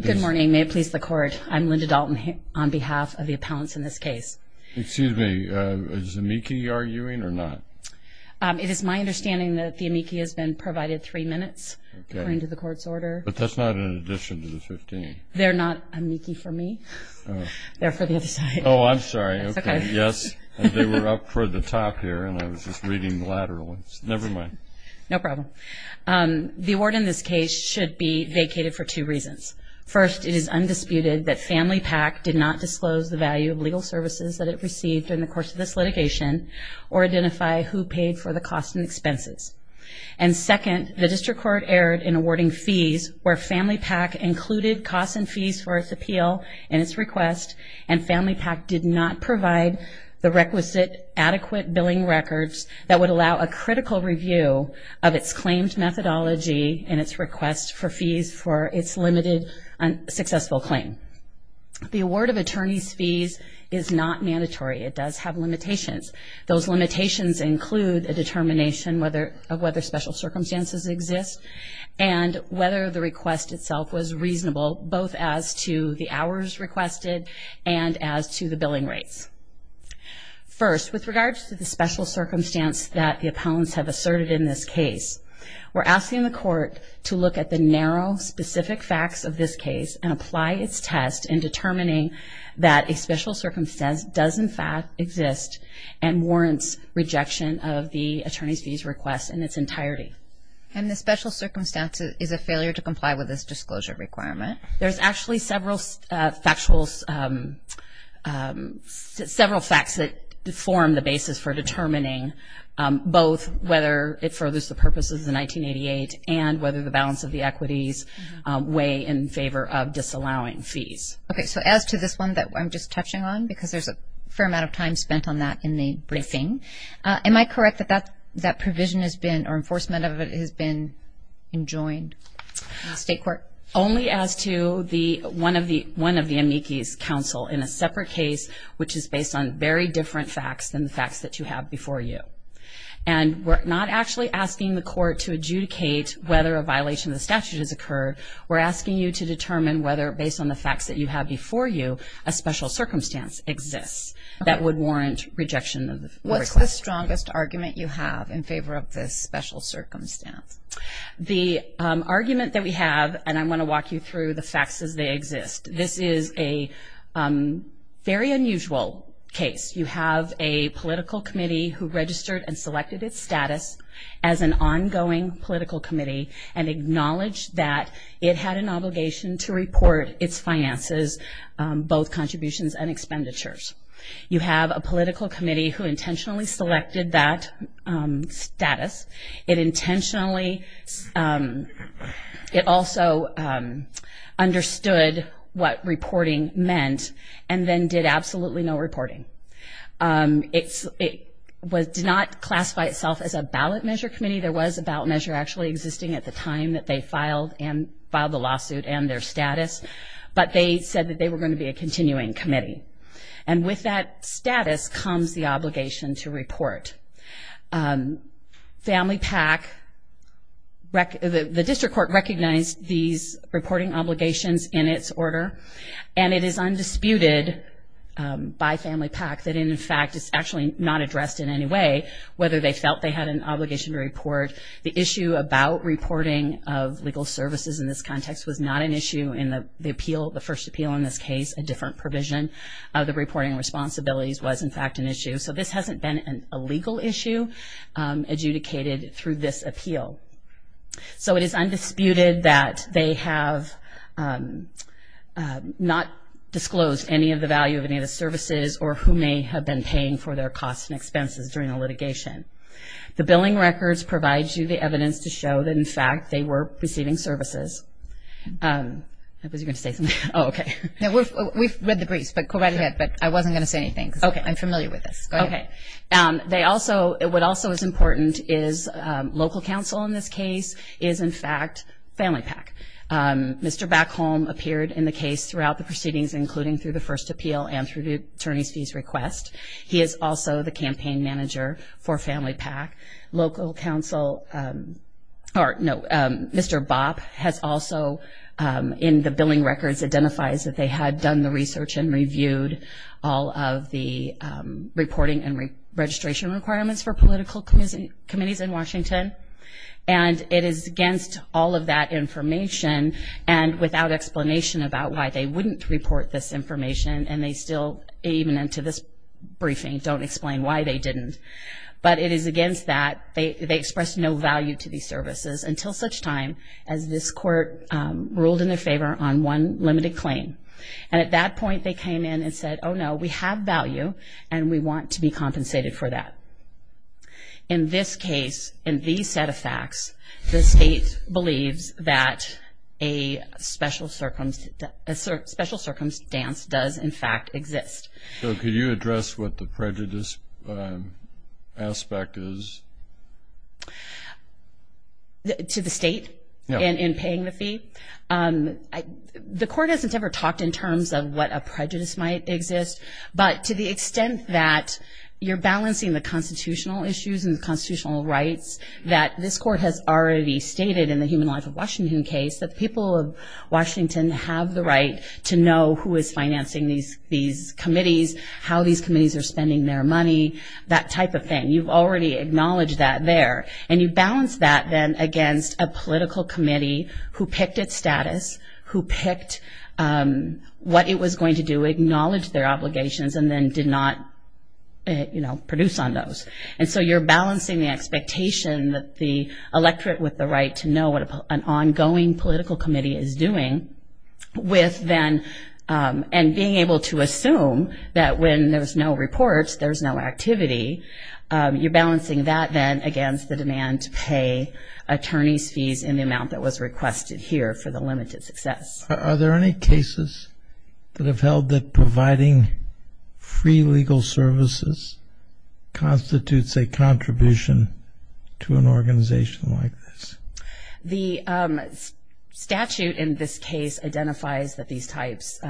Good morning. May it please the Court. I'm Linda Dalton on behalf of the appellants in this case. Excuse me. Is the amici arguing or not? It is my understanding that the amici has been provided three minutes according to the Court's order. But that's not in addition to the 15. They're not amici for me. They're for the other side. Oh, I'm sorry. Okay. Yes, they were up for the top here and I was just reading laterally. Never mind. No problem. The award in this case should be vacated for two reasons. First, it is undisputed that Family Pac did not disclose the value of legal services that it received in the course of this litigation or identify who paid for the costs and expenses. And second, the District Court erred in awarding fees where Family Pac included costs and fees for its appeal and its request and Family Pac did not provide the requisite adequate billing records that would allow a critical review of its claimed methodology and its request for fees for its limited and successful claim. The award of attorney's fees is not mandatory. It does have limitations. Those limitations include a determination of whether special circumstances exist and whether the request itself was reasonable both as to the hours requested and as to the billing rates. First, with regards to the special circumstance that the opponents have asserted in this case, we're asking the Court to look at the narrow, specific facts of this case and apply its test in determining that a special circumstance does in fact exist and warrants rejection of the attorney's fees request in its entirety. And the special circumstance is a failure to comply with this disclosure requirement? There's actually several facts that form the basis for determining both whether it furthers the purposes of 1988 and whether the balance of the equities weigh in favor of disallowing fees. Okay, so as to this one that I'm just touching on, because there's a fair amount of time spent on that in the briefing, am I correct that that provision has been, or enforcement of it has been enjoined in the state court? Only as to one of the amici's counsel in a separate case, which is based on very different facts than the facts that you have before you. And we're not actually asking the Court to adjudicate whether a violation of the statute has occurred. We're asking you to determine whether, based on the facts that you have before you, a special circumstance exists that would warrant rejection of the request. What's the strongest argument you have in favor of this special circumstance? The argument that we have, and I'm going to walk you through the facts as they exist. This is a very unusual case. You have a political committee who registered and selected its status as an ongoing political committee and acknowledged that it had an obligation to report its finances, both contributions and expenditures. You have a political committee who intentionally selected that status. It intentionally, it also understood what reporting meant and then did absolutely no reporting. It did not classify itself as a ballot measure committee. There was a ballot measure actually existing at the time that they filed the lawsuit and their status, but they said that they were going to be a continuing committee. And with that status comes the obligation to report. Family PAC, the district court recognized these reporting obligations in its order, and it is undisputed by Family PAC that, in fact, it's actually not addressed in any way, whether they felt they had an obligation to report. The issue about reporting of legal services in this context was not an issue in the appeal, the first appeal in this case, a different provision of the reporting responsibilities was, in fact, an issue. So this hasn't been a legal issue adjudicated through this appeal. So it is undisputed that they have not disclosed any of the value of any of the services or who may have been paying for their costs and expenses during the litigation. The billing records provide you the evidence to show that, in fact, they were receiving services. I was going to say something. Oh, okay. We've read the briefs, but go right ahead, but I wasn't going to say anything because I'm familiar with this. Okay. What also is important is local counsel in this case is, in fact, Family PAC. Mr. Backholm appeared in the case throughout the proceedings, including through the first appeal and through the attorney's fees request. He is also the campaign manager for Family PAC. Local counsel or, no, Mr. Bopp has also, in the billing records, identifies that they had done the research and reviewed all of the reporting and registration requirements for political committees in Washington. And it is against all of that information and without explanation about why they wouldn't report this information and they still, even into this briefing, don't explain why they didn't. But it is against that. They expressed no value to these services until such time as this court ruled in their favor on one limited claim. And at that point they came in and said, oh, no, we have value and we want to be compensated for that. In this case, in these set of facts, the state believes that a special circumstance does, in fact, exist. So could you address what the prejudice aspect is? To the state? Yeah. In paying the fee? The court hasn't ever talked in terms of what a prejudice might exist, but to the extent that you're balancing the constitutional issues and the constitutional rights that this court has already stated in the Human Life of Washington case, that the people of Washington have the right to know who is financing these committees, how these committees are spending their money, that type of thing. You've already acknowledged that there. And you balance that then against a political committee who picked its status, who picked what it was going to do, acknowledge their obligations, and then did not, you know, produce on those. And so you're balancing the expectation that the electorate with the right to know what an ongoing political committee is doing with then and being able to assume that when there's no reports, there's no activity. You're balancing that then against the demand to pay attorneys' fees in the amount that was requested here for the limited success. Are there any cases that have held that providing free legal services constitutes a contribution to an organization like this? The statute in this case identifies that these types,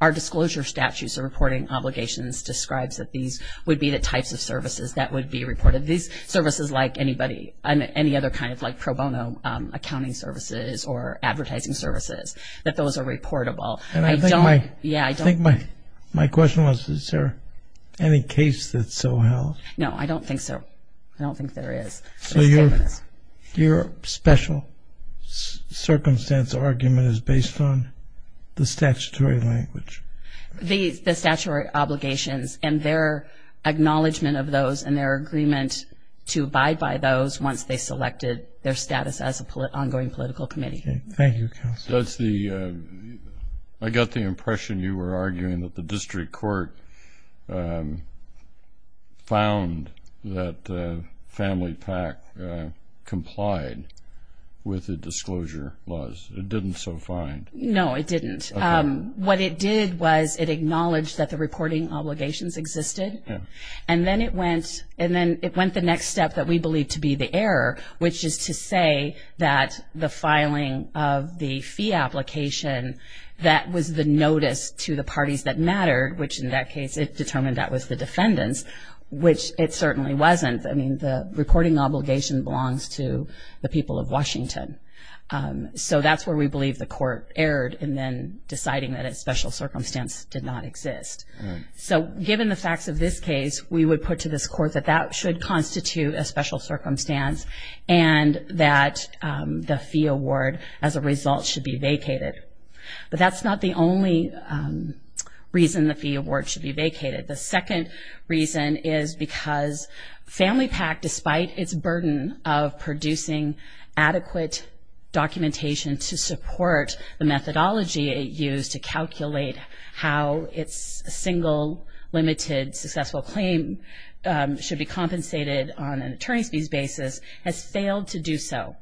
our disclosure statutes of reporting obligations describes that these would be the types of services that would be reported. These services like anybody, any other kind of like pro bono accounting services or advertising services, that those are reportable. And I think my question was, is there any case that so held? No, I don't think so. I don't think there is. So your special circumstance argument is based on the statutory language? The statutory obligations and their acknowledgement of those and their agreement to abide by those once they selected their status as an ongoing political committee. Thank you, Counsel. I got the impression you were arguing that the district court found that family PAC complied with the disclosure laws. It didn't so find. No, it didn't. What it did was it acknowledged that the reporting obligations existed, and then it went the next step that we believe to be the error, which is to say that the filing of the fee application that was the notice to the parties that mattered, which in that case it determined that was the defendants, which it certainly wasn't. I mean, the reporting obligation belongs to the people of Washington. So that's where we believe the court erred in then deciding that a special circumstance did not exist. So given the facts of this case, we would put to this court that that should constitute a special circumstance and that the fee award as a result should be vacated. But that's not the only reason the fee award should be vacated. The second reason is because family PAC, despite its burden of producing adequate documentation to support the methodology it used to calculate how its single limited successful claim should be compensated on an attorney's fees basis, has failed to do so.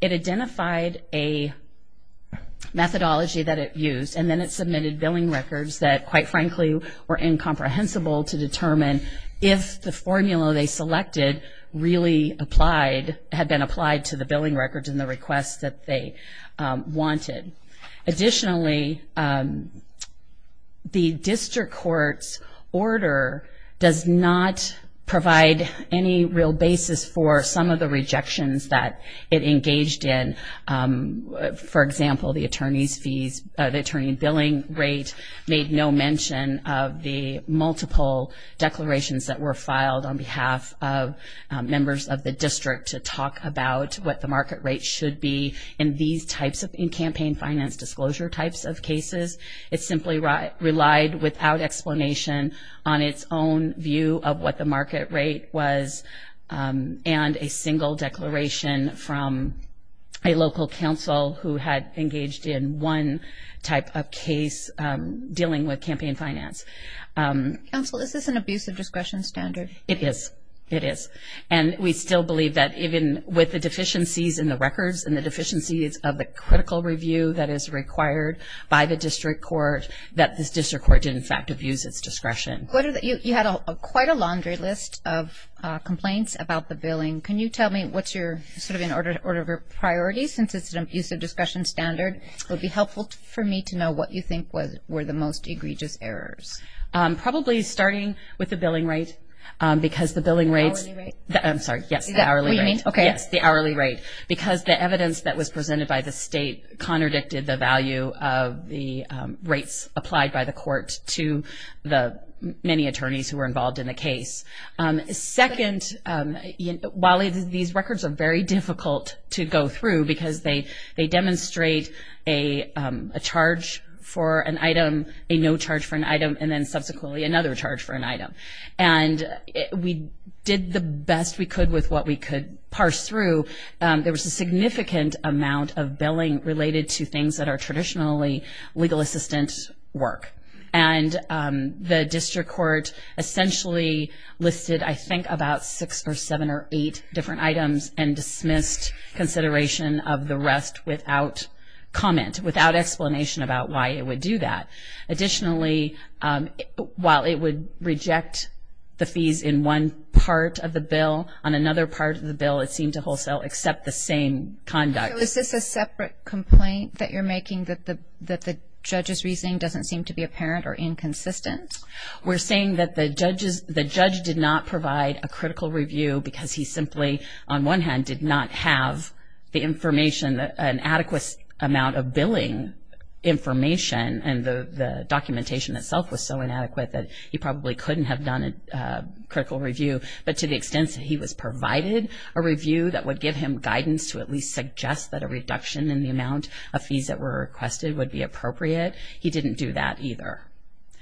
It identified a methodology that it used, and then it submitted billing records that, quite frankly, were incomprehensible to determine if the formula they selected really applied, had been applied to the billing records and the requests that they wanted. Additionally, the district court's order does not provide any real basis for some of the rejections that it engaged in. For example, the attorney's fees, the attorney billing rate, made no mention of the multiple declarations that were filed on behalf of members of the district to talk about what the market rate should be in these types of campaign finance disclosure types of cases. It simply relied without explanation on its own view of what the market rate was and a single declaration from a local council who had engaged in one type of case dealing with campaign finance. Counsel, is this an abuse of discretion standard? It is. It is. And we still believe that even with the deficiencies in the records and the deficiencies of the critical review that is required by the district court, that this district court did, in fact, abuse its discretion. You had quite a laundry list of complaints about the billing. Can you tell me what's your sort of in order of priority since it's an abuse of discretion standard? It would be helpful for me to know what you think were the most egregious errors. Probably starting with the billing rate because the billing rates. The hourly rate? I'm sorry. Yes, the hourly rate. Okay. Yes, the hourly rate. Because the evidence that was presented by the state contradicted the value of the rates applied by the court to the many attorneys who were involved in the case. Second, while these records are very difficult to go through because they demonstrate a charge for an item, a no charge for an item, and then subsequently another charge for an item. And we did the best we could with what we could parse through. There was a significant amount of billing related to things that are traditionally legal assistant work. And the district court essentially listed, I think, about six or seven or eight different items and dismissed consideration of the rest without comment, without explanation about why it would do that. Additionally, while it would reject the fees in one part of the bill, on another part of the bill it seemed to wholesale except the same conduct. So is this a separate complaint that you're making, that the judge's reasoning doesn't seem to be apparent or inconsistent? We're saying that the judge did not provide a critical review because he simply, on one hand, did not have the information, an adequate amount of billing information, and the documentation itself was so inadequate that he probably couldn't have done a critical review. But to the extent that he was provided a review that would give him guidance to at least suggest that a reduction in the amount of fees that were requested would be appropriate, he didn't do that either.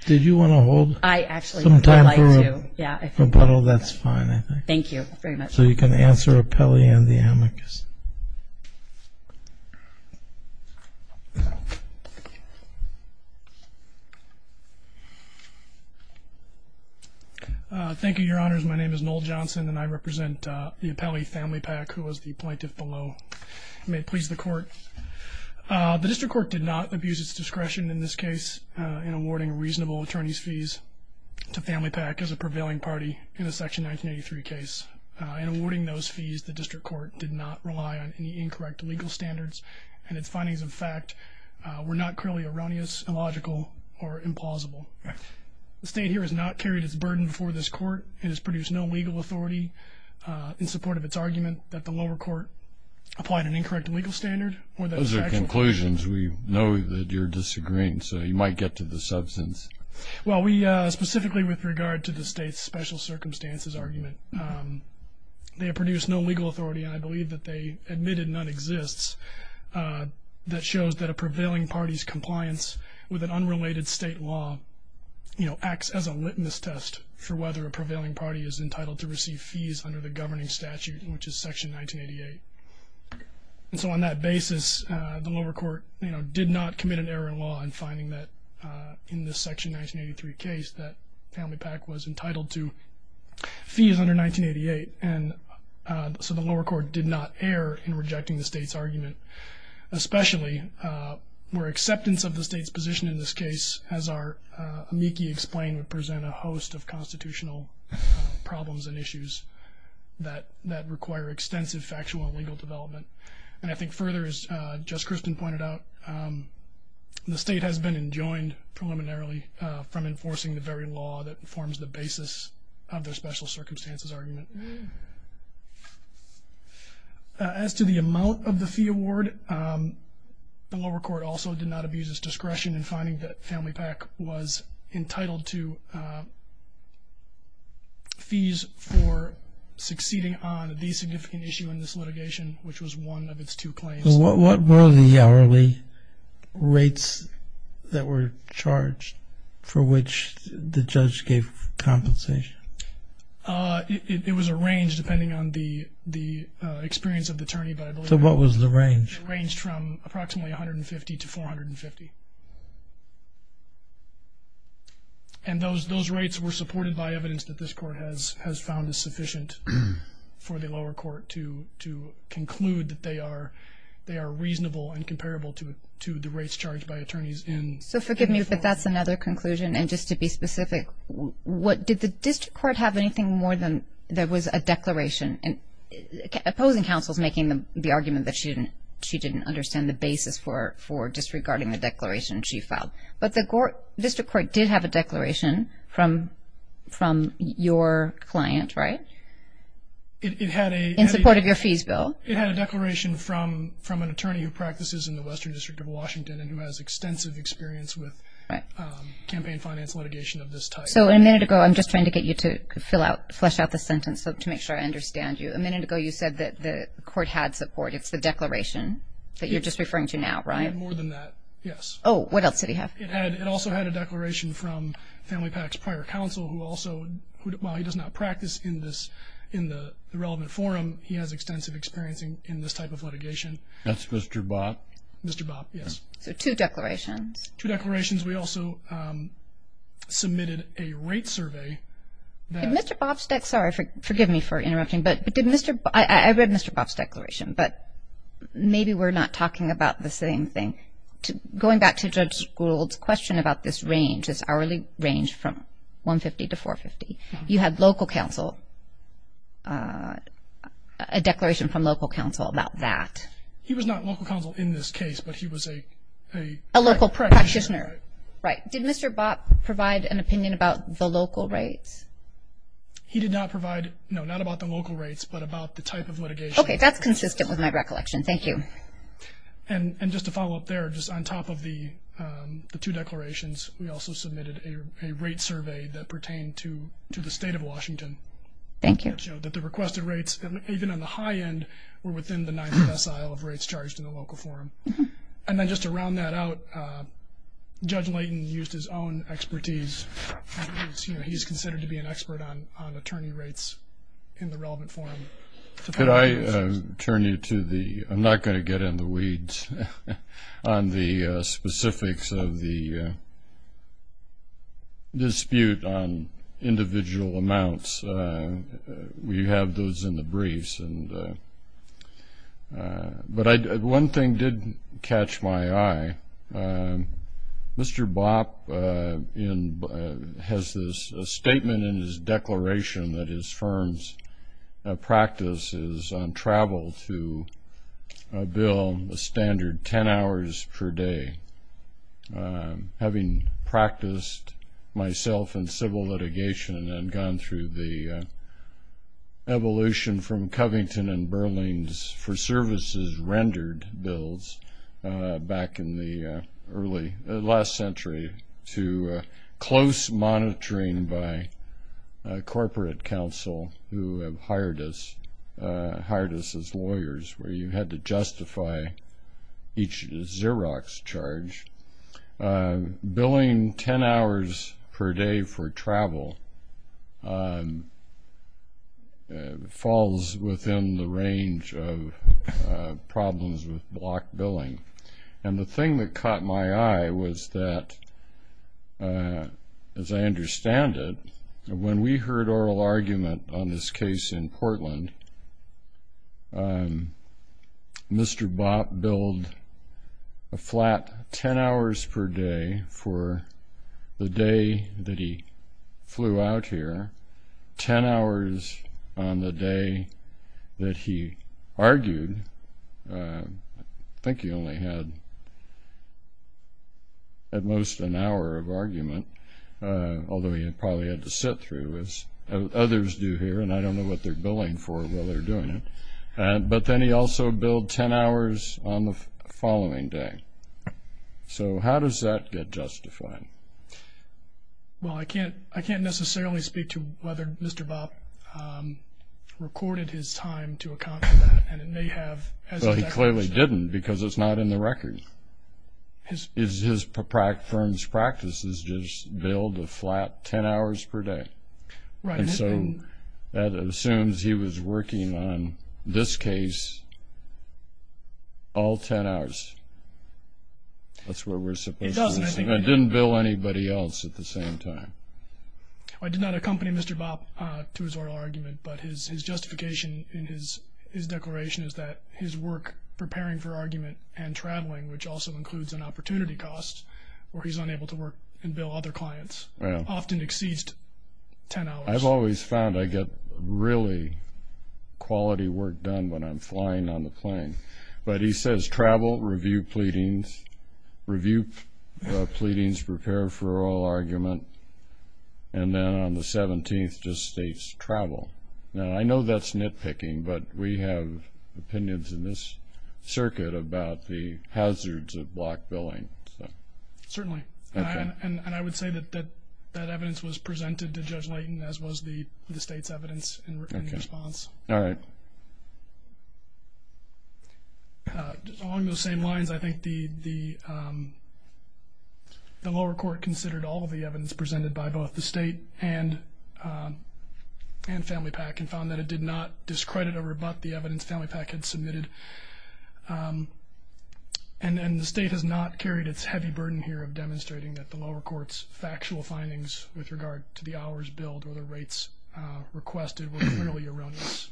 Did you want to hold some time for a rebuttal? That's fine, I think. Thank you very much. So you can answer Apelli and the amicus. Thank you, Your Honors. My name is Noel Johnson, and I represent the Apelli family PAC, who was the plaintiff below. May it please the court. The district court did not abuse its discretion in this case in awarding reasonable attorney's fees to family PAC as a prevailing party in the Section 1983 case. In awarding those fees, the district court did not rely on any incorrect legal standards, and its findings, in fact, were not clearly erroneous, illogical, or implausible. The state here has not carried its burden before this court. It has produced no legal authority in support of its argument that the lower court applied an incorrect legal standard. Those are conclusions. We know that you're disagreeing, so you might get to the substance. Well, specifically with regard to the state's special circumstances argument, they have produced no legal authority, and I believe that they admitted none exists, that shows that a prevailing party's compliance with an unrelated state law acts as a litmus test for whether a prevailing party is entitled to receive fees under the governing statute, which is Section 1988. And so on that basis, the lower court, you know, did not commit an error in law in finding that in the Section 1983 case that family PAC was entitled to fees under 1988, and so the lower court did not err in rejecting the state's argument, especially where acceptance of the state's position in this case, as our amici explained, would present a host of constitutional problems and issues that require extensive factual and legal development. And I think further, as Justice Crispin pointed out, the state has been enjoined preliminarily from enforcing the very law that forms the basis of their special circumstances argument. As to the amount of the fee award, the lower court also did not abuse its discretion in finding that family PAC was entitled to fees for succeeding on the significant issue in this litigation, which was one of its two claims. What were the hourly rates that were charged for which the judge gave compensation? It was a range, depending on the experience of the attorney. So what was the range? The range ranged from approximately $150 to $450. And those rates were supported by evidence that this court has found is sufficient for the lower court to conclude that they are reasonable and comparable to the rates charged by attorneys. So forgive me, but that's another conclusion. And just to be specific, did the district court have anything more than there was a declaration? Opposing counsel is making the argument that she didn't understand the basis for disregarding the declaration she filed. But the district court did have a declaration from your client, right? In support of your fees bill. It had a declaration from an attorney who practices in the Western District of Washington and who has extensive experience with campaign finance litigation of this type. So a minute ago, I'm just trying to get you to flesh out the sentence to make sure I understand you. A minute ago you said that the court had support. It's the declaration that you're just referring to now, right? More than that, yes. Oh, what else did he have? It also had a declaration from Family PAC's prior counsel who also, while he does not practice in the relevant forum, he has extensive experience in this type of litigation. That's Mr. Bopp? Mr. Bopp, yes. So two declarations. Two declarations. We also submitted a rate survey. Did Mr. Bopp's declaration, sorry, forgive me for interrupting. I read Mr. Bopp's declaration, but maybe we're not talking about the same thing. Going back to Judge Gould's question about this range, this hourly range from $150 to $450, you had local counsel, a declaration from local counsel about that. He was not local counsel in this case, but he was a... A local practitioner. Right. Did Mr. Bopp provide an opinion about the local rates? He did not provide, no, not about the local rates, but about the type of litigation. Okay, that's consistent with my recollection. Thank you. And just to follow up there, just on top of the two declarations, we also submitted a rate survey that pertained to the State of Washington. Thank you. It showed that the requested rates, even on the high end, were within the nineth decile of rates charged in the local forum. And then just to round that out, Judge Layton used his own expertise. He's considered to be an expert on attorney rates in the relevant forum. Could I turn you to the... I'm not going to get in the weeds on the specifics of the dispute on individual amounts. We have those in the briefs. But one thing did catch my eye. Mr. Bopp has this statement in his declaration that his firm's practice is on travel to a bill, the standard 10 hours per day. Having practiced myself in civil litigation and gone through the evolution from Covington and Berlin's for services rendered bills back in the last century to close monitoring by corporate counsel who have hired us as lawyers where you had to justify each Xerox charge, billing 10 hours per day for travel falls within the range of problems with block billing. And the thing that caught my eye was that, as I understand it, when we heard oral argument on this case in Portland, Mr. Bopp billed a flat 10 hours per day for the day that he flew out here, 10 hours on the day that he argued. I think he only had at most an hour of argument, although he probably had to sit through as others do here, and I don't know what they're billing for while they're doing it. But then he also billed 10 hours on the following day. So how does that get justified? Well, I can't necessarily speak to whether Mr. Bopp recorded his time to account for that, and it may have as a declaration. Well, he clearly didn't because it's not in the record. His firm's practice is just billed a flat 10 hours per day. Right. And so that assumes he was working on this case all 10 hours. That's what we're supposed to assume. It doesn't, I think. And didn't bill anybody else at the same time. I did not accompany Mr. Bopp to his oral argument, but his justification in his declaration is that his work preparing for argument and traveling, which also includes an opportunity cost where he's unable to work and bill other clients, often exceeds 10 hours. I've always found I get really quality work done when I'm flying on the plane. But he says travel, review pleadings, review pleadings, prepare for oral argument, and then on the 17th just states travel. Now, I know that's nitpicking, but we have opinions in this circuit about the hazards of block billing. Certainly. And I would say that that evidence was presented to Judge Layton, as was the state's evidence in response. All right. Along those same lines, I think the lower court considered all of the evidence presented by both the state and Family PAC and found that it did not discredit or rebut the evidence Family PAC had submitted. And the state has not carried its heavy burden here of demonstrating that the lower court's factual findings with regard to the hours billed or the rates requested were clearly erroneous.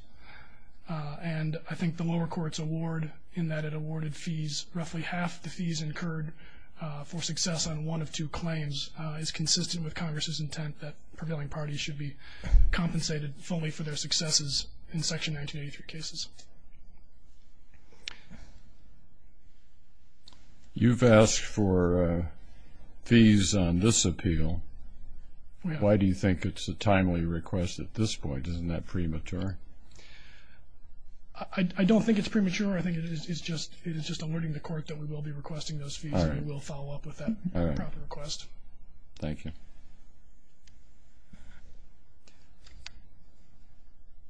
And I think the lower court's award in that it awarded fees, roughly half the fees incurred for success on one of two claims, is consistent with Congress's intent that prevailing parties should be compensated fully for their successes in Section 1983 cases. You've asked for fees on this appeal. Why do you think it's a timely request at this point? Isn't that premature? I don't think it's premature. I think it is just alerting the court that we will be requesting those fees and we will follow up with that proper request. Thank you.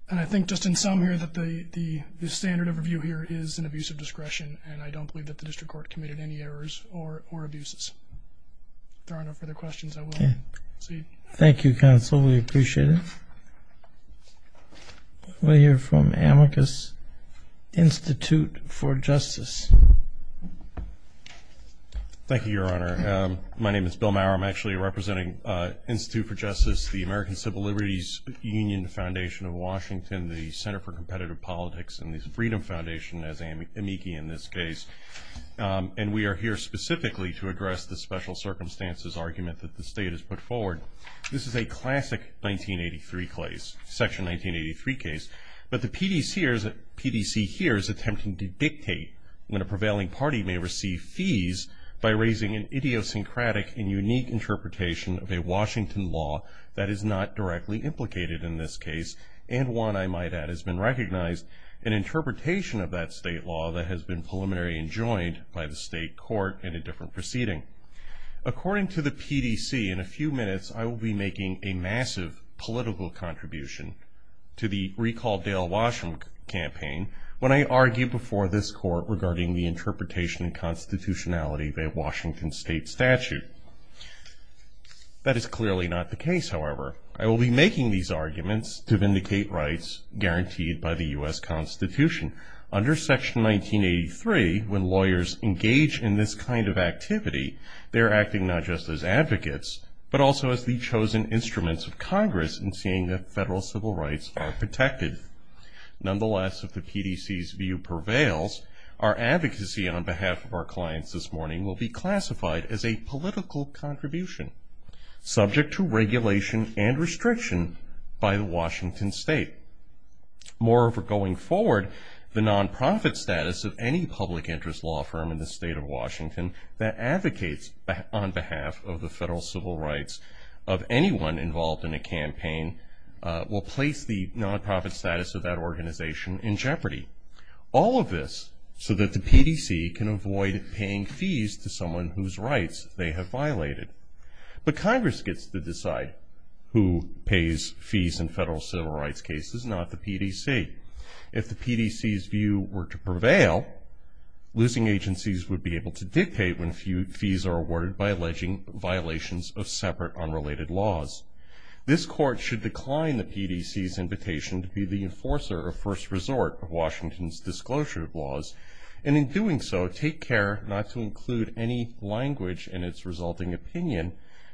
And I think just in sum here that the standard of review here is an abuse of discretion and I don't believe that the district court committed any errors or abuses. If there are no further questions, I will proceed. Thank you, counsel. We appreciate it. We'll hear from Amicus Institute for Justice. Thank you, Your Honor. My name is Bill Maurer. I'm actually representing Institute for Justice, the American Civil Liberties Union, the Foundation of Washington, the Center for Competitive Politics, and the Freedom Foundation as amici in this case. And we are here specifically to address the special circumstances argument that the state has put forward. This is a classic 1983 case, Section 1983 case. But the PDC here is attempting to dictate when a prevailing party may receive fees by raising an idiosyncratic and unique interpretation of a Washington law that is not directly implicated in this case and one I might add has been recognized, an interpretation of that state law that has been preliminary enjoined by the state court in a different proceeding. According to the PDC, in a few minutes I will be making a massive political contribution to the Recall Dale Washam campaign when I argue before this court regarding the interpretation and constitutionality of a Washington state statute. That is clearly not the case, however. I will be making these arguments to vindicate rights guaranteed by the U.S. Constitution. Under Section 1983, when lawyers engage in this kind of activity, they're acting not just as advocates, but also as the chosen instruments of Congress in seeing that federal civil rights are protected. Nonetheless, if the PDC's view prevails, our advocacy on behalf of our clients this morning will be classified as a political contribution, subject to regulation and restriction by the Washington state. Moreover, going forward, the nonprofit status of any public interest law firm in the state of Washington that advocates on behalf of the federal civil rights of anyone involved in a campaign will place the nonprofit status of that organization in jeopardy. All of this so that the PDC can avoid paying fees to someone whose rights they have violated. But Congress gets to decide who pays fees in federal civil rights cases, not the PDC. If the PDC's view were to prevail, losing agencies would be able to dictate when fees are awarded by alleging violations of separate, unrelated laws. This court should decline the PDC's invitation to be the enforcer or first resort of Washington's disclosure of laws, and in doing so, take care not to include any language in its resulting opinion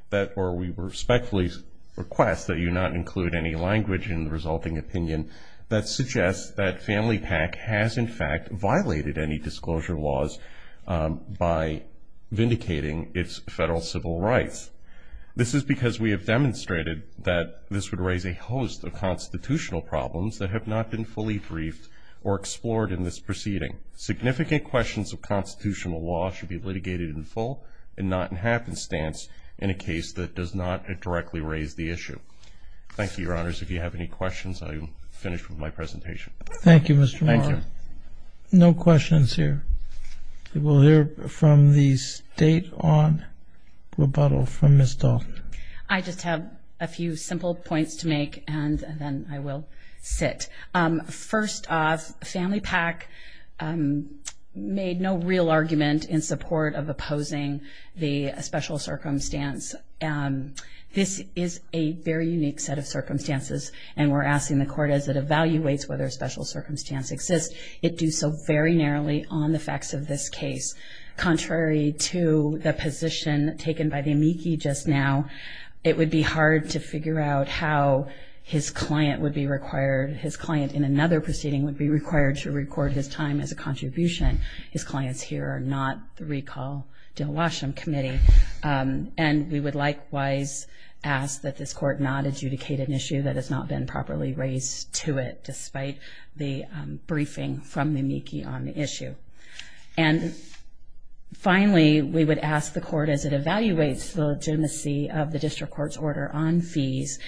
that, or we respectfully request that you not include any language in the resulting opinion that suggests that Family PAC has in fact violated any disclosure laws by vindicating its federal civil rights. This is because we have demonstrated that this would raise a host of constitutional problems that have not been fully briefed or explored in this proceeding. Significant questions of constitutional law should be litigated in full and not in happenstance in a case that does not directly raise the issue. Thank you, Your Honors. If you have any questions, I will finish with my presentation. Thank you, Mr. Moore. Thank you. No questions here. We will hear from the State on rebuttal from Ms. Dalton. I just have a few simple points to make, and then I will sit. First off, Family PAC made no real argument in support of opposing the special circumstance. This is a very unique set of circumstances, and we're asking the Court as it evaluates whether a special circumstance exists, it do so very narrowly on the facts of this case. Contrary to the position taken by the amici just now, it would be hard to figure out how his client would be required, his client in another proceeding would be required to record his time as a contribution. His clients here are not the recall Dilwasham Committee. And we would likewise ask that this Court not adjudicate an issue that has not been properly raised to it, despite the briefing from the amici on the issue. And finally, we would ask the Court as it evaluates the legitimacy of the District Court's order on fees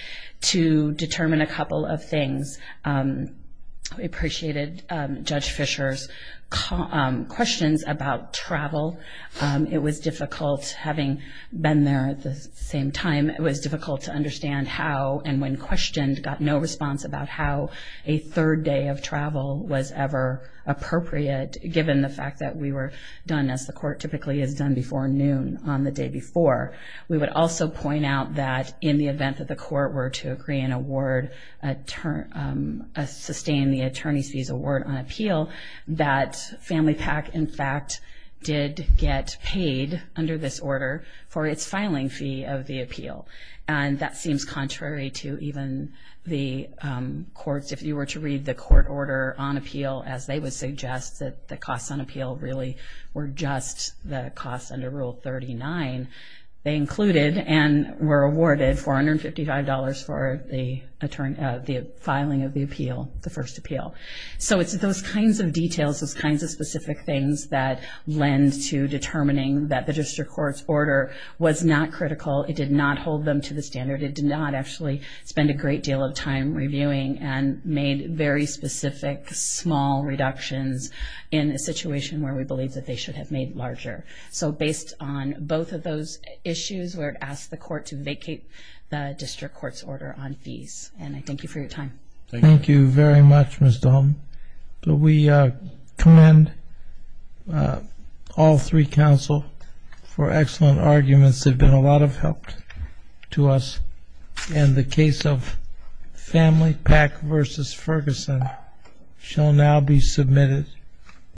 to determine a couple of things. We appreciated Judge Fisher's questions about travel. It was difficult, having been there at the same time, it was difficult to understand how, and when questioned, got no response about how a third day of travel was ever appropriate, given the fact that we were done as the Court typically is done before noon on the day before. We would also point out that in the event that the Court were to agree an award, sustain the attorney's fees award on appeal, that Family PAC, in fact, did get paid under this order for its filing fee of the appeal. And that seems contrary to even the courts. If you were to read the court order on appeal, as they would suggest that the costs on appeal really were just the costs under Rule 39, they included and were awarded $455 for the filing of the appeal, the first appeal. So it's those kinds of details, those kinds of specific things, that lend to determining that the District Court's order was not critical. It did not hold them to the standard. It did not actually spend a great deal of time reviewing and made very specific small reductions in a situation where we believe that they should have made larger. So based on both of those issues, we would ask the Court to vacate the District Court's order on fees. And I thank you for your time. Thank you very much, Ms. Dahlman. We commend all three counsel for excellent arguments. They've been a lot of help to us. And the case of Family PAC v. Ferguson shall now be submitted.